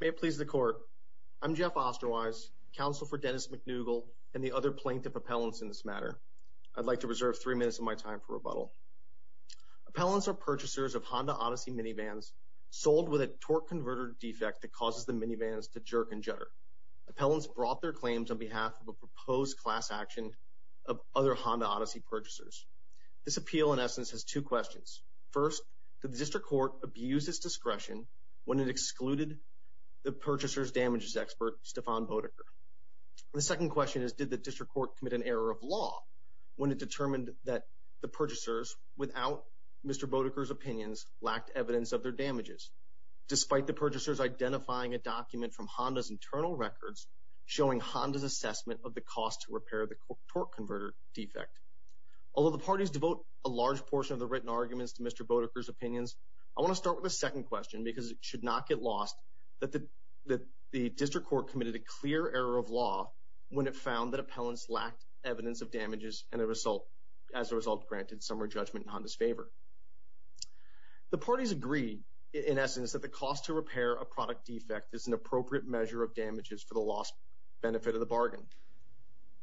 May it please the Court. I'm Jeff Osterweise, counsel for Dennis MacDougall and the other plaintiff appellants in this matter. I'd like to reserve three minutes of my time for rebuttal. Appellants are purchasers of Honda Odyssey minivans sold with a torque converter defect that causes the minivans to jerk and judder. Appellants brought their claims on behalf of a proposed class action of other Honda Odyssey purchasers. This appeal in district court abused its discretion when it excluded the purchasers damages expert Stefan Bodecker. The second question is did the district court commit an error of law when it determined that the purchasers without Mr. Bodecker's opinions lacked evidence of their damages despite the purchasers identifying a document from Honda's internal records showing Honda's assessment of the cost to repair the torque converter defect. Although the parties devote a large portion of the written arguments to Mr. Bodecker's I want to start with a second question because it should not get lost that the the district court committed a clear error of law when it found that appellants lacked evidence of damages and as a result granted summary judgment in Honda's favor. The parties agree in essence that the cost to repair a product defect is an appropriate measure of damages for the loss benefit of the bargain.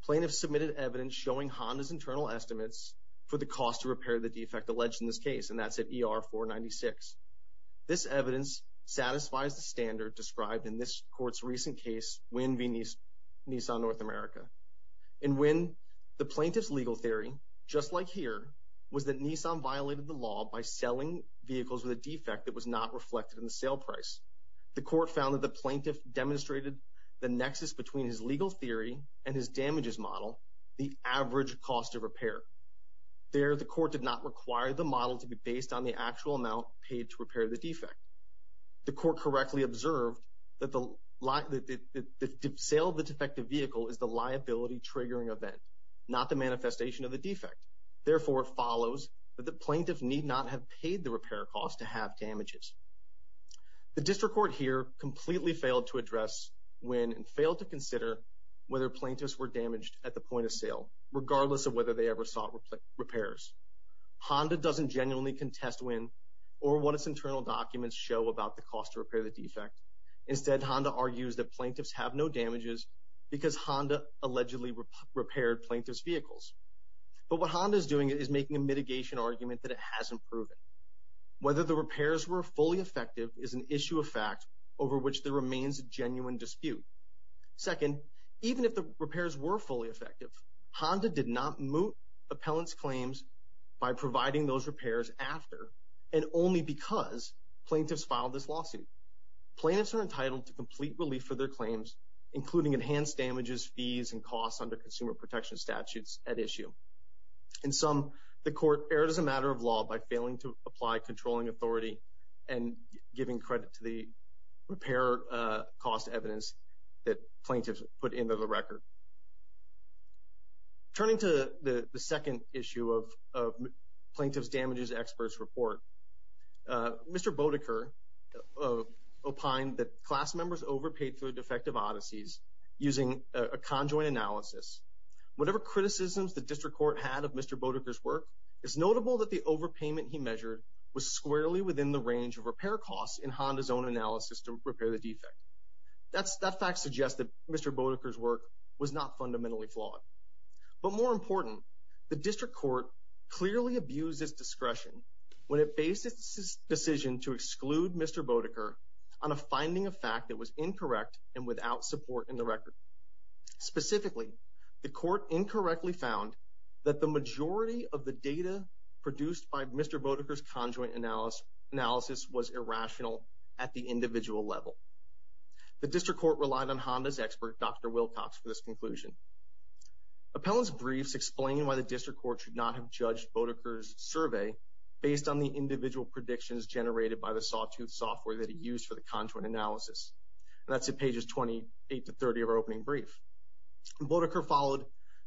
Plaintiffs submitted evidence showing Honda's internal estimates for the cost to repair the defect alleged in this case and that's at ER 496. This evidence satisfies the standard described in this court's recent case Wynn v. Nissan North America. In Wynn the plaintiff's legal theory just like here was that Nissan violated the law by selling vehicles with a defect that was not reflected in the sale price. The court found that the plaintiff demonstrated the nexus between his legal theory and his damages model the average cost of repair. There the court did not require the model to be based on the actual amount paid to repair the defect. The court correctly observed that the sale of the defective vehicle is the liability triggering event not the manifestation of the defect. Therefore it follows that the plaintiff need not have paid the repair cost to have damages. The district court here completely failed to address Wynn and failed to consider whether plaintiffs were damaged at the point of sale regardless of whether they ever sought repairs. Honda doesn't genuinely contest Wynn or what its internal documents show about the cost to repair the defect. Instead Honda argues that plaintiffs have no damages because Honda allegedly repaired plaintiff's vehicles. But what Honda is doing is making a mitigation argument that it hasn't proven. Whether the repairs were fully effective is an issue of fact over which there remains a genuine dispute. Second, even if the repairs were fully effective, Honda did not moot appellants claims by providing those repairs after and only because plaintiffs filed this lawsuit. Plaintiffs are entitled to complete relief for their claims including enhanced damages, fees, and costs under consumer protection statutes at issue. In sum, the court erred as a matter of law by failing to apply controlling authority and giving credit to the repair cost evidence that plaintiffs put into the record. Turning to the second issue of plaintiff's damages experts report, Mr. Bodeker opined that class members overpaid for defective Odysseys using a conjoined analysis. Whatever criticisms the district court had of Mr. Bodeker's work, it's notable that the overpayment he measured was squarely within the zone analysis to repair the defect. That fact suggested Mr. Bodeker's work was not fundamentally flawed. But more important, the district court clearly abused its discretion when it faced its decision to exclude Mr. Bodeker on a finding of fact that was incorrect and without support in the record. Specifically, the court incorrectly found that the majority of the data produced by Mr. Bodeker's conjoint analysis was irrational at the individual level. The district court relied on Honda's expert Dr. Wilcox for this conclusion. Appellant's briefs explain why the district court should not have judged Bodeker's survey based on the individual predictions generated by the sawtooth software that he used for the conjoint analysis. That's at pages 28 to 30 of our opening brief. Bodeker followed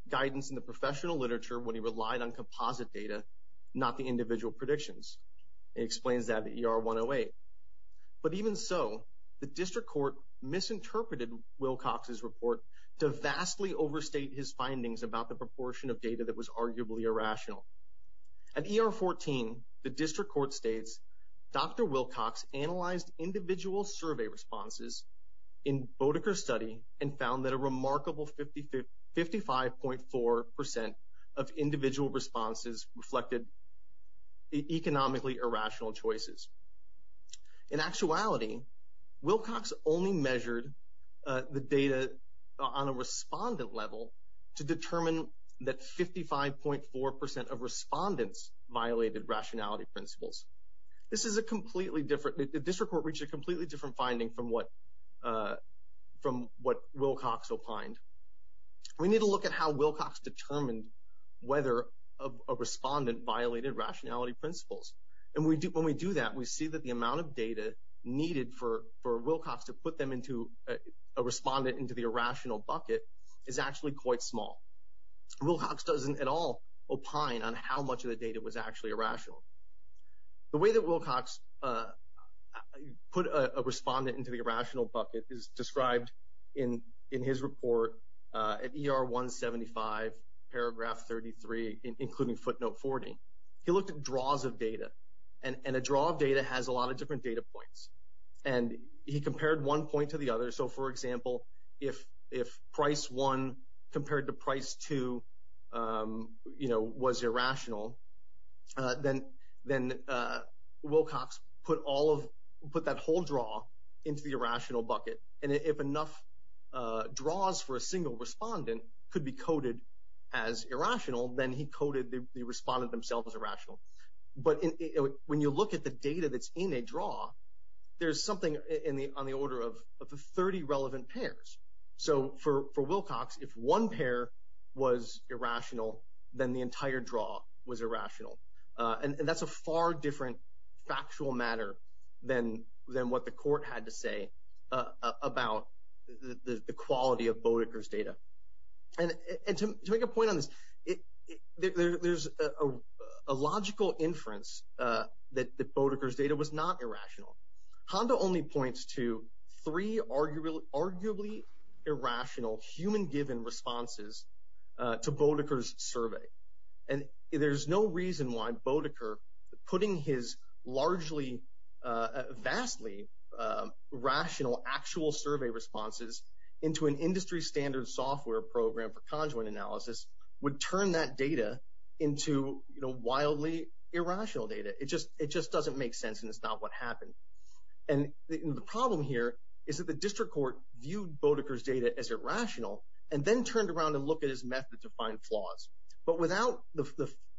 guidance in the professional literature when he relied on composite data, not the But even so, the district court misinterpreted Wilcox's report to vastly overstate his findings about the proportion of data that was arguably irrational. At ER 14, the district court states, Dr. Wilcox analyzed individual survey responses in Bodeker's study and found that a remarkable 55.4% of individual responses reflected economically irrational choices. In actuality, Wilcox only measured the data on a respondent level to determine that 55.4% of respondents violated rationality principles. This is a completely different, the district court reached a completely different finding from what, from what Wilcox opined. We need to look at how Wilcox determined whether a respondent violated rationality principles. And we do, when we do that, we see that the amount of data needed for for Wilcox to put them into a respondent into the irrational bucket is actually quite small. Wilcox doesn't at all opine on how much of the data was actually irrational. The way that Wilcox put a respondent into the irrational bucket is described in in his report at R175, paragraph 33, including footnote 40. He looked at draws of data. And a draw of data has a lot of different data points. And he compared one point to the other. So for example, if price one compared to price two, you know, was irrational, then then Wilcox put all of, put that whole draw into the irrational bucket. And if enough draws for a single respondent could be coded as irrational, then he coded the respondent themselves as irrational. But when you look at the data that's in a draw, there's something in the, on the order of 30 relevant pairs. So for Wilcox, if one pair was irrational, then the entire draw was irrational. And that's a far different factual matter than than what the court had to say about the quality of Boudicca's data. And to make a point on this, there's a logical inference that Boudicca's data was not irrational. Honda only points to three arguably irrational human-given responses to Boudicca's survey. And there's no reason why Boudicca, putting his largely, vastly rational actual survey responses into an industry standard software program for conjoint analysis, would turn that data into, you know, wildly irrational data. It just, it just doesn't make sense and it's not what happened. And the problem here is that the district court viewed Boudicca's data as irrational and then turned around and look at his method to find flaws. But without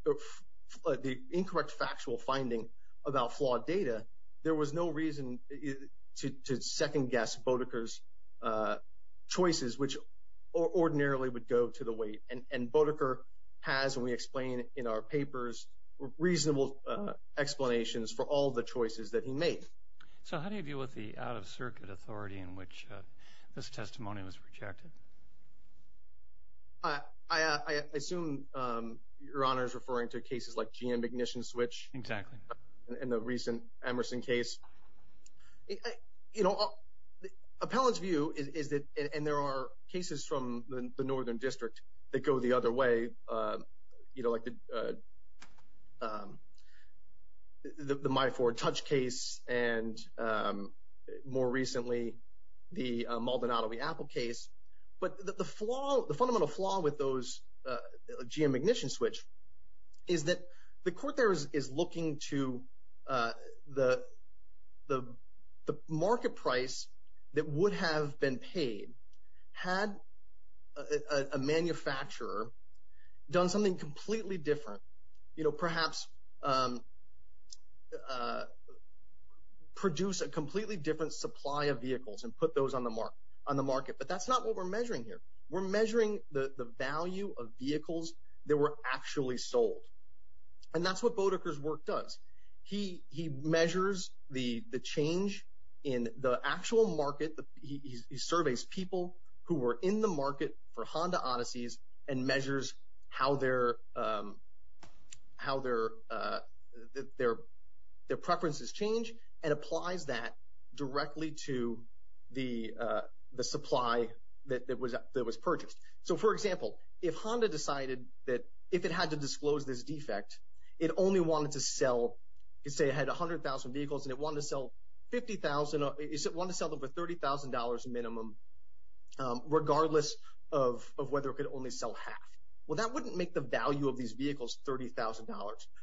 the incorrect factual finding about flawed data, there was no reason to second-guess Boudicca's choices, which ordinarily would go to the weight. And Boudicca has, and we explain in our papers, reasonable explanations for all the choices that he made. So how do you deal with the out-of-circuit authority in which this testimony was rejected? I assume Your Honor is referring to cases like GM ignition switch. Exactly. In the recent Emerson case. You know, the appellant's view is that, and there are cases from the northern district that go the other way, you know, like the, the Myford Touch case and more recently the Maldonado v. Apple case. But the flaw, the fundamental flaw with those, GM the court there is looking to the, the market price that would have been paid had a manufacturer done something completely different, you know, perhaps produce a completely different supply of vehicles and put those on the mark, on the market. But that's not what we're measuring here. We're measuring the value of vehicles that were actually sold. And that's what Boudicca's work does. He, he measures the, the change in the actual market. He surveys people who were in the market for Honda Odysseys and measures how their, how their, their, their preferences change and applies that directly to the, the supply that was that was purchased. So for example, if Honda decided that if it had to disclose this defect, it only wanted to sell, say it had 100,000 vehicles and it wanted to sell 50,000, it wanted to sell them for $30,000 minimum regardless of, of whether it could only sell half. Well, that wouldn't make the value of these vehicles $30,000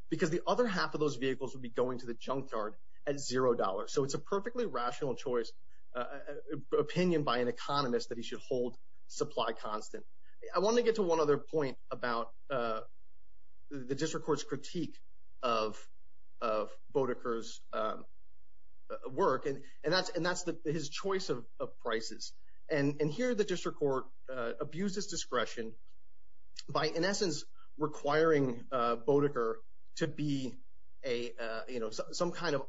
because the other half of those vehicles would be going to the junkyard at $0. So it's a perfectly rational choice, opinion by an economist that he should hold supply constant. I want to get to one other point about the district court's critique of, of Boudicca's work. And, and that's, and that's the, his choice of prices. And, and here the district court abused his discretion by, in essence, requiring Boudicca to be a, you know, some kind of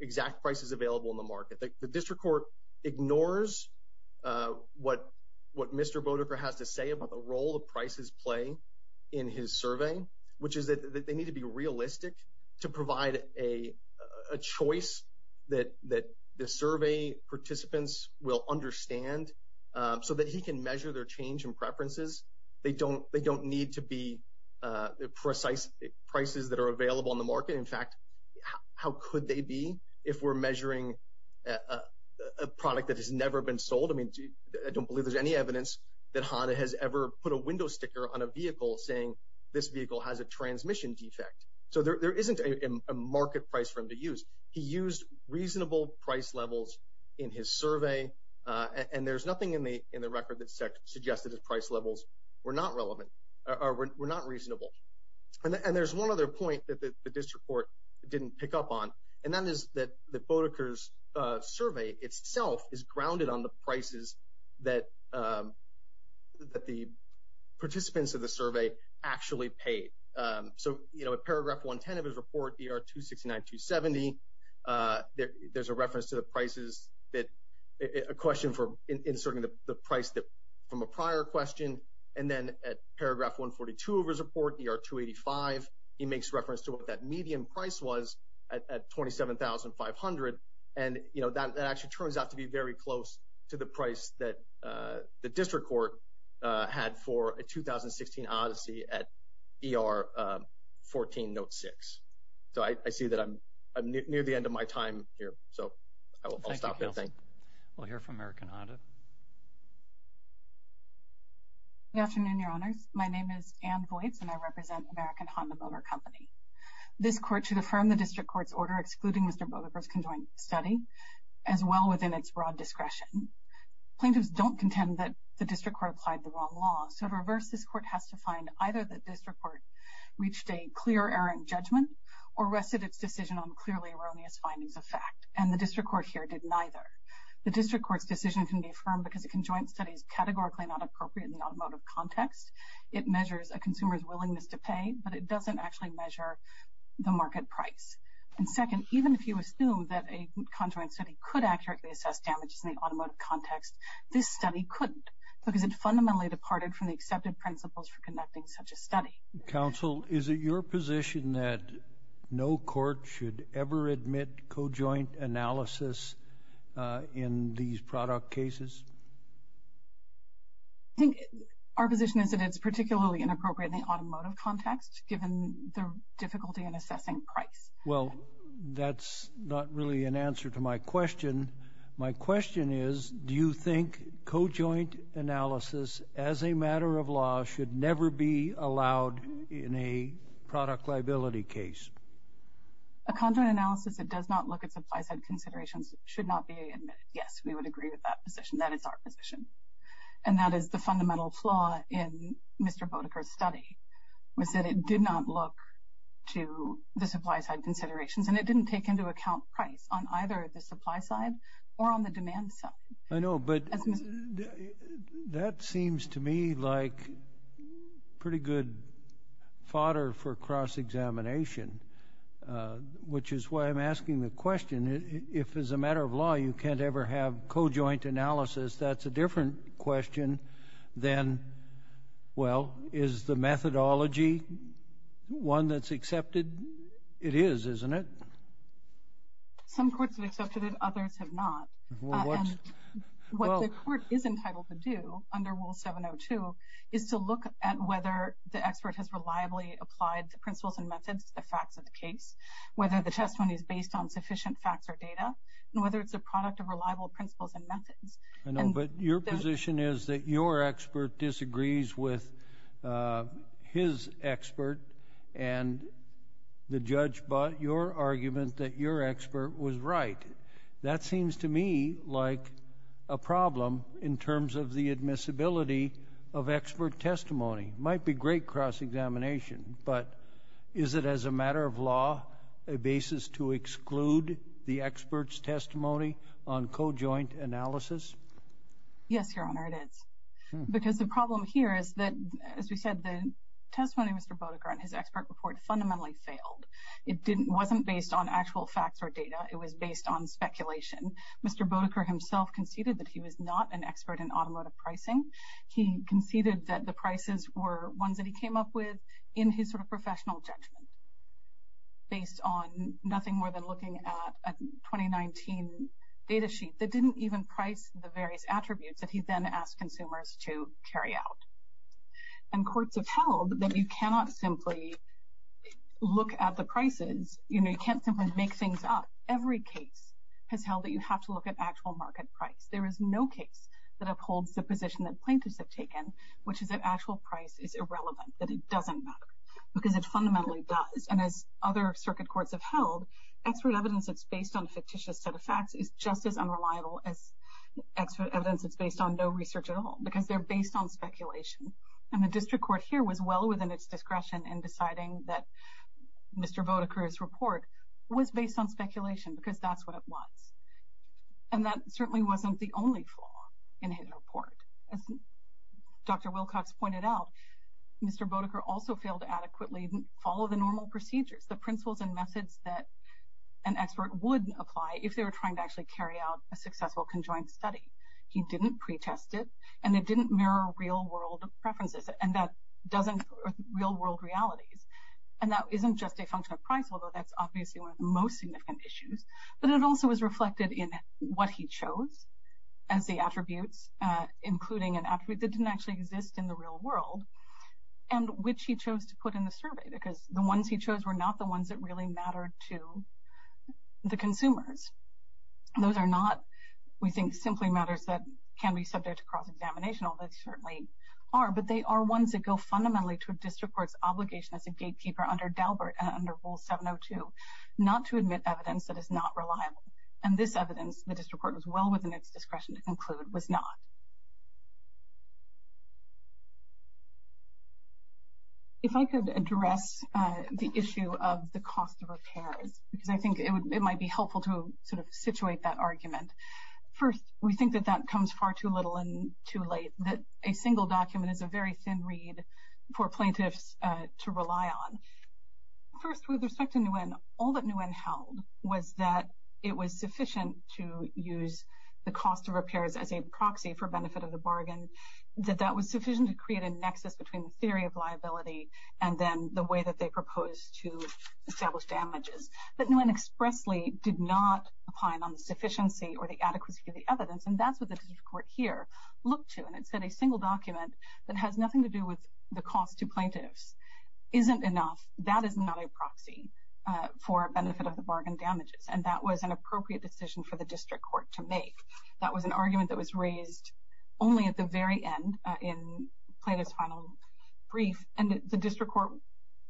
exact prices available in the market. The district court ignores what, what Mr. Boudicca has to say about the role of prices play in his survey, which is that they need to be realistic to provide a, a choice that, that the survey participants will understand so that he can measure their change in preferences. They don't, they don't need to be precise prices that are available in the market. I mean, I don't believe there's any evidence that HANA has ever put a window sticker on a vehicle saying this vehicle has a transmission defect. So there, there isn't a market price for him to use. He used reasonable price levels in his survey, and there's nothing in the, in the record that suggests that his price levels were not relevant, or were not reasonable. And, and there's one other point that the district court didn't pick up on, and that is that the Boudicca's survey itself is grounded on the prices that, that the participants of the survey actually paid. So, you know, at paragraph 110 of his report, ER 269, 270, there's a reference to the prices that, a question for inserting the price that, from a prior question, and then at paragraph 142 of his report, ER 285, he makes reference to what that medium price was at, at 27,500. And, you know, that, that actually turns out to be very close to the price that the district court had for a 2016 Odyssey at ER 14 note 6. So I see that I'm near the end of my time here, so I will, I'll stop there. Thank you. We'll hear from American Honda. Good afternoon, your honors. My name is Ann Voights, and I represent American Honda Motor Company. This court should affirm the district court's order excluding Mr. Boudicca's conjoined study, as well within its broad discretion. Plaintiffs don't contend that the district court applied the wrong law, so to reverse, this court has to find either that this report reached a clear error in judgment, or rested its decision on clearly erroneous findings of fact, and the district court here did neither. The district court's decision can be affirmed because a conjoined study is categorically not appropriate in the automotive context. It measures a consumer's willingness to pay, but it doesn't actually measure the market price. And second, even if you assume that a conjoined study could accurately assess damages in the automotive context, this study couldn't, because it fundamentally departed from the accepted principles for conducting such a study. Counsel, is it your position that no court should ever admit cojoint analysis in these product cases? I think our position is that it's particularly inappropriate in the automotive context, given the difficulty in assessing price. Well, that's not really an answer to my question. My question is, do you think cojoint analysis, as a matter of law, should never be allowed in a product liability case? A conjoined analysis that does not look at supply-side considerations should not be admitted. Yes, we would agree with that position. That is our position. And that is the fundamental flaw in Mr. Boudicca's study, was that it did not look to the supply-side considerations, and it didn't take into account price on either the supply side or on the demand side. I know, but that seems to me like pretty good fodder for cross-examination, which is why I'm asking the question. If, as a matter of law, you can't ever have cojoint analysis, that's a different question than, well, is the methodology one that's accepted? It is, isn't it? Some courts have accepted it, others have not. What the court is entitled to do, under Rule 702, is to look at whether the expert has reliably applied the principles and methods to the facts of the case, whether the testimony is based on sufficient facts or data, and whether it's a product of reliable principles and methods. I know, but your position is that your expert disagrees with his expert, and the judge bought your argument that your expert was right. That seems to me like a problem in terms of the admissibility of expert testimony. Might be great cross-examination, but is it, as a matter of law, a basis to exclude the expert's testimony on cojoint analysis? Yes, Your Honor, it is, because the problem here is that, as we said, the testimony of Mr. Boudicca and his expert report fundamentally failed. It wasn't based on actual facts or data, it was based on speculation. Mr. Boudicca himself conceded that he was not an expert in automotive pricing. He conceded that the prices were ones that he came up with in his sort of based on nothing more than looking at a 2019 data sheet that didn't even price the various attributes that he then asked consumers to carry out. And courts have held that you cannot simply look at the prices, you know, you can't simply make things up. Every case has held that you have to look at actual market price. There is no case that upholds the position that plaintiffs have taken, which is that actual price is irrelevant, that it doesn't matter, because it fundamentally does. And as other circuit courts have held, expert evidence that's based on fictitious set of facts is just as unreliable as expert evidence that's based on no research at all, because they're based on speculation. And the district court here was well within its discretion in deciding that Mr. Boudicca's report was based on speculation, because that's what it was. And that certainly wasn't the only flaw in his report. As Dr. Wilcox pointed out, Mr. Boudicca also failed to adequately follow the normal procedures, the principles and methods that an expert would apply if they were trying to actually carry out a successful conjoined study. He didn't pre-test it, and it didn't mirror real-world preferences, and that doesn't real-world realities. And that isn't just a function of price, although that's obviously one of the most significant issues, but it also was reflected in what he chose as the attributes, including an attribute that didn't actually exist in the real world, and which he chose to put in the survey, because the ones he chose were not the ones that really mattered to the consumers. Those are not, we think, simply matters that can be subject to cross-examination, although they certainly are, but they are ones that go fundamentally to a district court's obligation as a gatekeeper under Daubert and under Rule 702 not to admit evidence that is not reliable. And this evidence, the district court was well within its discretion to conclude, was not. If I could address the issue of the cost of repairs, because I think it would, it might be helpful to sort of situate that argument. First, we think that that comes far too little and too late, that a single document is a very thin reed for plaintiffs to rely on. First, with respect to Nguyen, all that Nguyen held was that it was sufficient to use the cost of repairs as a proxy for benefit of the bargain, that that was sufficient to create a nexus between the theory of liability and then the way that they proposed to establish damages. But Nguyen expressly did not opine on the sufficiency or the adequacy of the evidence, and that's what the district court here looked to. And it said a single document that has nothing to do with the cost to plaintiffs isn't enough. That is not a proxy for benefit of the bargain damages. And that was an appropriate decision for the district court to make. That was an argument that was raised only at the very end in Plaintiff's final brief, and the district court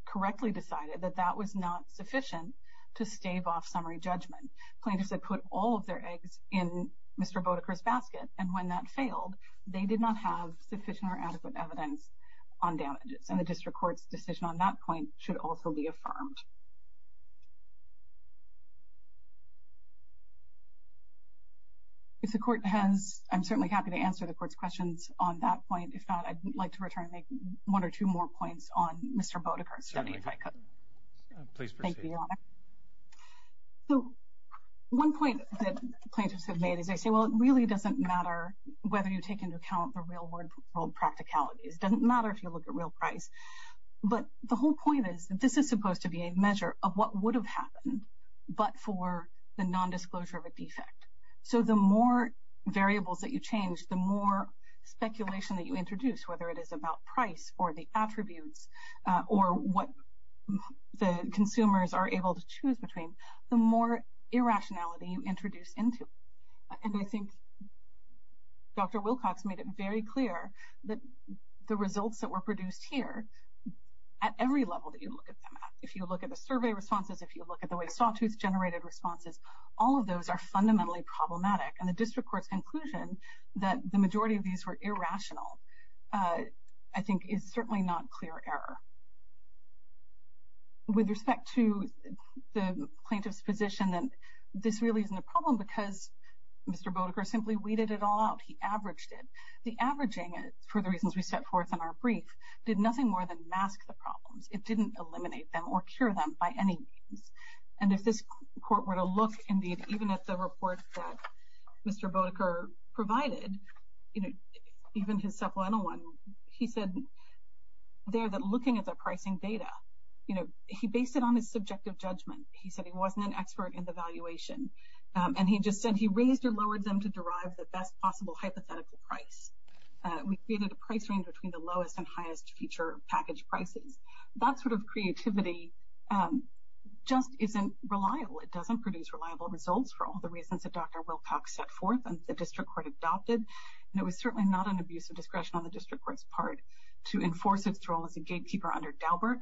correctly decided that that was not sufficient to stave off summary judgment. Plaintiffs had put all of their eggs in Mr. Boudicca's basket, and when that failed, they did not have sufficient or adequate evidence on damages. And the district court's decision on that point should also be affirmed. If the court has, I'm certainly happy to answer the court's questions on that point. If not, I'd like to return and make one or two more points on Mr. Boudicca's study, if I could. Please proceed. Thank you, Your Honor. So one point that plaintiffs have made is they say, well, it really doesn't matter whether you take into account the real world practicalities. It doesn't matter if you look at real price. But the whole point is that this is supposed to be a measure of what would have happened, but for the nondisclosure of a defect. So the more variables that you change, the more speculation that you introduce, whether it is about price or the attributes or what the consumers are able to choose between, the more irrationality you introduce into it. And I think Dr. Wilcox made it very clear that the results that were produced here, at every level that you look at them, if you look at the survey responses, if you look at the way sawtooth generated responses, all of those are fundamentally problematic. And the district court's conclusion that the majority of these were irrational, I think is certainly not clear error. With respect to the plaintiff's position that this really isn't a problem because Mr. Boudicca simply weeded it all out. He averaged it. The averaging, for the reasons we set forth in our brief, did nothing more than mask the problems. It didn't eliminate them or cure them by any means. And if this court were to look indeed, even at the report that Mr. Boudicca provided, even his supplemental one, he said there that looking at the pricing data, he based it on his subjective judgment. He said he wasn't an expert in the valuation. And he just said he raised or lowered them to derive the best possible hypothetical price. We created a price range between the lowest and the highest. And I think that creativity just isn't reliable. It doesn't produce reliable results for all the reasons that Dr. Wilcox set forth and the district court adopted. And it was certainly not an abuse of discretion on the district court's part to enforce its role as a gatekeeper under Daubert.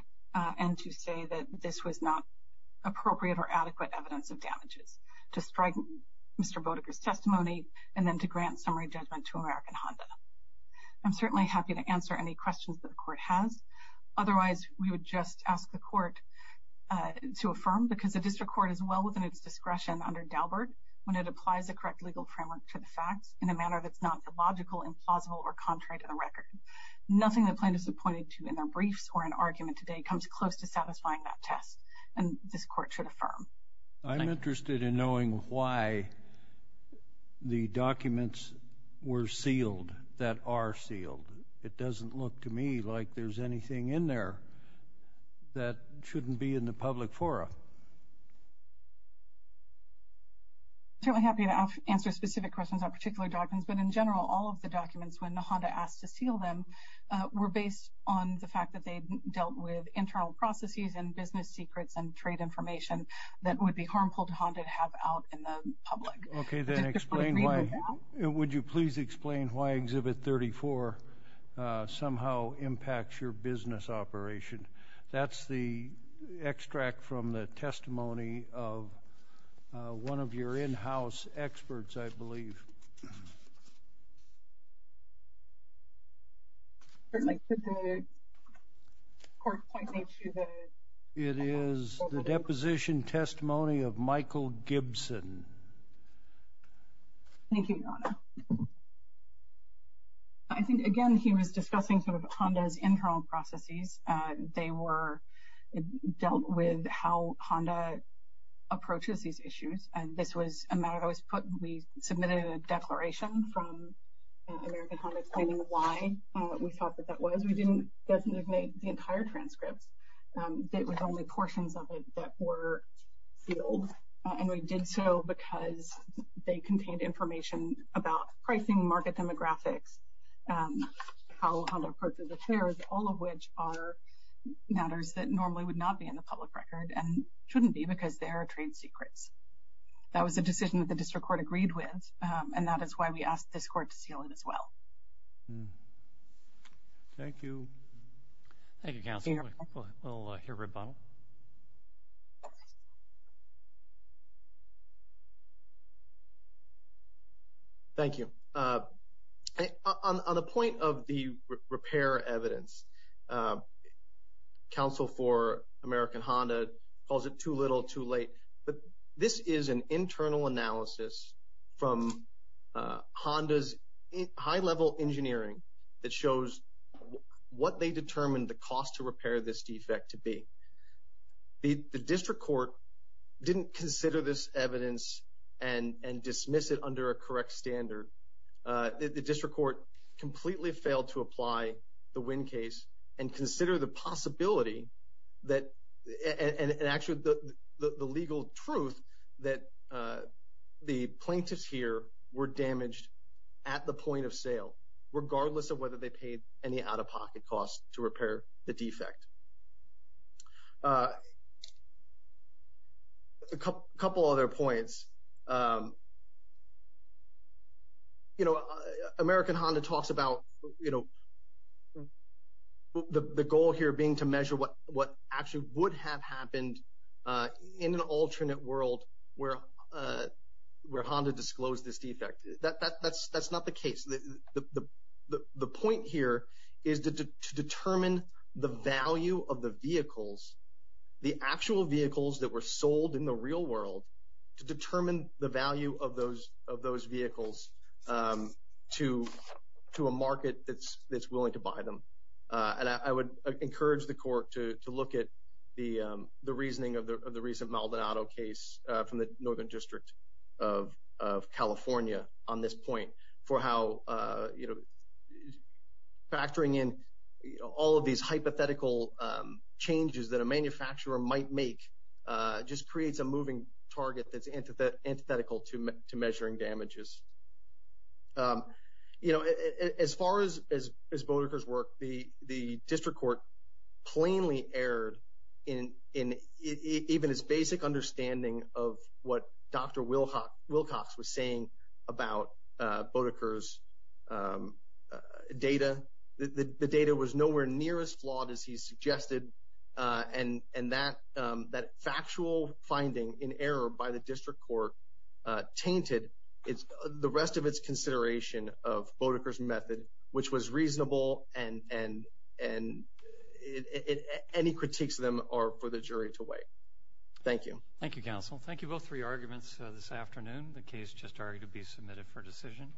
And to say that this was not appropriate or adequate evidence of damages to strike Mr. Boudicca's testimony, and then to grant summary judgment to American Honda. I'm certainly happy to answer any questions that the court has. Otherwise, we would just ask the court to affirm because the district court is well within its discretion under Daubert, when it applies the correct legal framework to the facts in a manner that's not illogical, implausible or contrary to the record. Nothing that plaintiffs have pointed to in their briefs or an argument today comes close to satisfying that test. And this court should affirm. I'm interested in knowing why the documents were sealed that are sealed. It doesn't look to me like there's anything in there that shouldn't be in the public forum. Certainly happy to answer specific questions on particular documents, but in general, all of the documents when the Honda asked to seal them were based on the fact that they dealt with internal processes and business secrets and trade information that would be harmful to Honda to have out in the public. Okay, then explain why. Would you please explain why Exhibit 34 somehow impacts your business operation? That's the extract from the testimony of one of your in-house experts, I believe. There's like, thank you. I think, again, he was discussing sort of Honda's internal processes. They were dealt with how Honda approaches these issues. And this was a matter that was put, we submitted a declaration from American Honda explaining why we thought that that was. We didn't designate the entire transcripts. It was only portions of it that were sealed. And we did so because they contained information about pricing, market demographics, how Honda approaches affairs, all of which are matters that normally would not be in the public record and shouldn't be because they are trade secrets. That was a decision that the district court agreed with. And that is why we asked this court to seal it as well. Thank you. Thank you, counsel. We'll hear rebuttal. Thank you. Uh, on the point of the repair evidence, uh, counsel for American Honda calls it too little too late. But this is an internal analysis from Honda's high level engineering that shows what they determined the cost to repair this defect to be. The district court didn't consider this evidence and and dismiss it under a correct standard. Uh, the district court completely failed to apply the wind case and consider the possibility that and actually the legal truth that, uh, the plaintiffs here were damaged at the point of sale, regardless of whether they paid any out of pocket costs to repair the defect. Uh, a couple other points. Um, you know, American Honda talks about, you know, the goal here being to measure what actually would have happened, uh, in an alternate world where, uh, where Honda disclosed this defect. That's that's not the case. The point here is to determine the value of the vehicles, the actual vehicles that were sold in the real world to determine the value of those of those vehicles, um, to to a market that's that's willing to buy them on. I would encourage the court to look at the reasoning of the recent Maldonado case from the northern district of California on this point for how, uh, you know, factoring in all of these hypothetical changes that a manufacturer might make just creates a moving target that's into the antithetical to measuring damages. Um, you know, as far as as as Boudicca's work, the district court plainly erred in in even his basic understanding of what Dr Wilcox Wilcox was saying about Boudicca's, um, data. The data was nowhere near as flawed as he suggested. Uh, and and that, um, that factual finding in error by the district court tainted the rest of its consideration of Boudicca's method, which was reasonable and and and any critiques of them are for the jury to weigh. Thank you. Thank you, Counsel. Thank you. Both three arguments this afternoon. The case just started to be submitted for decision.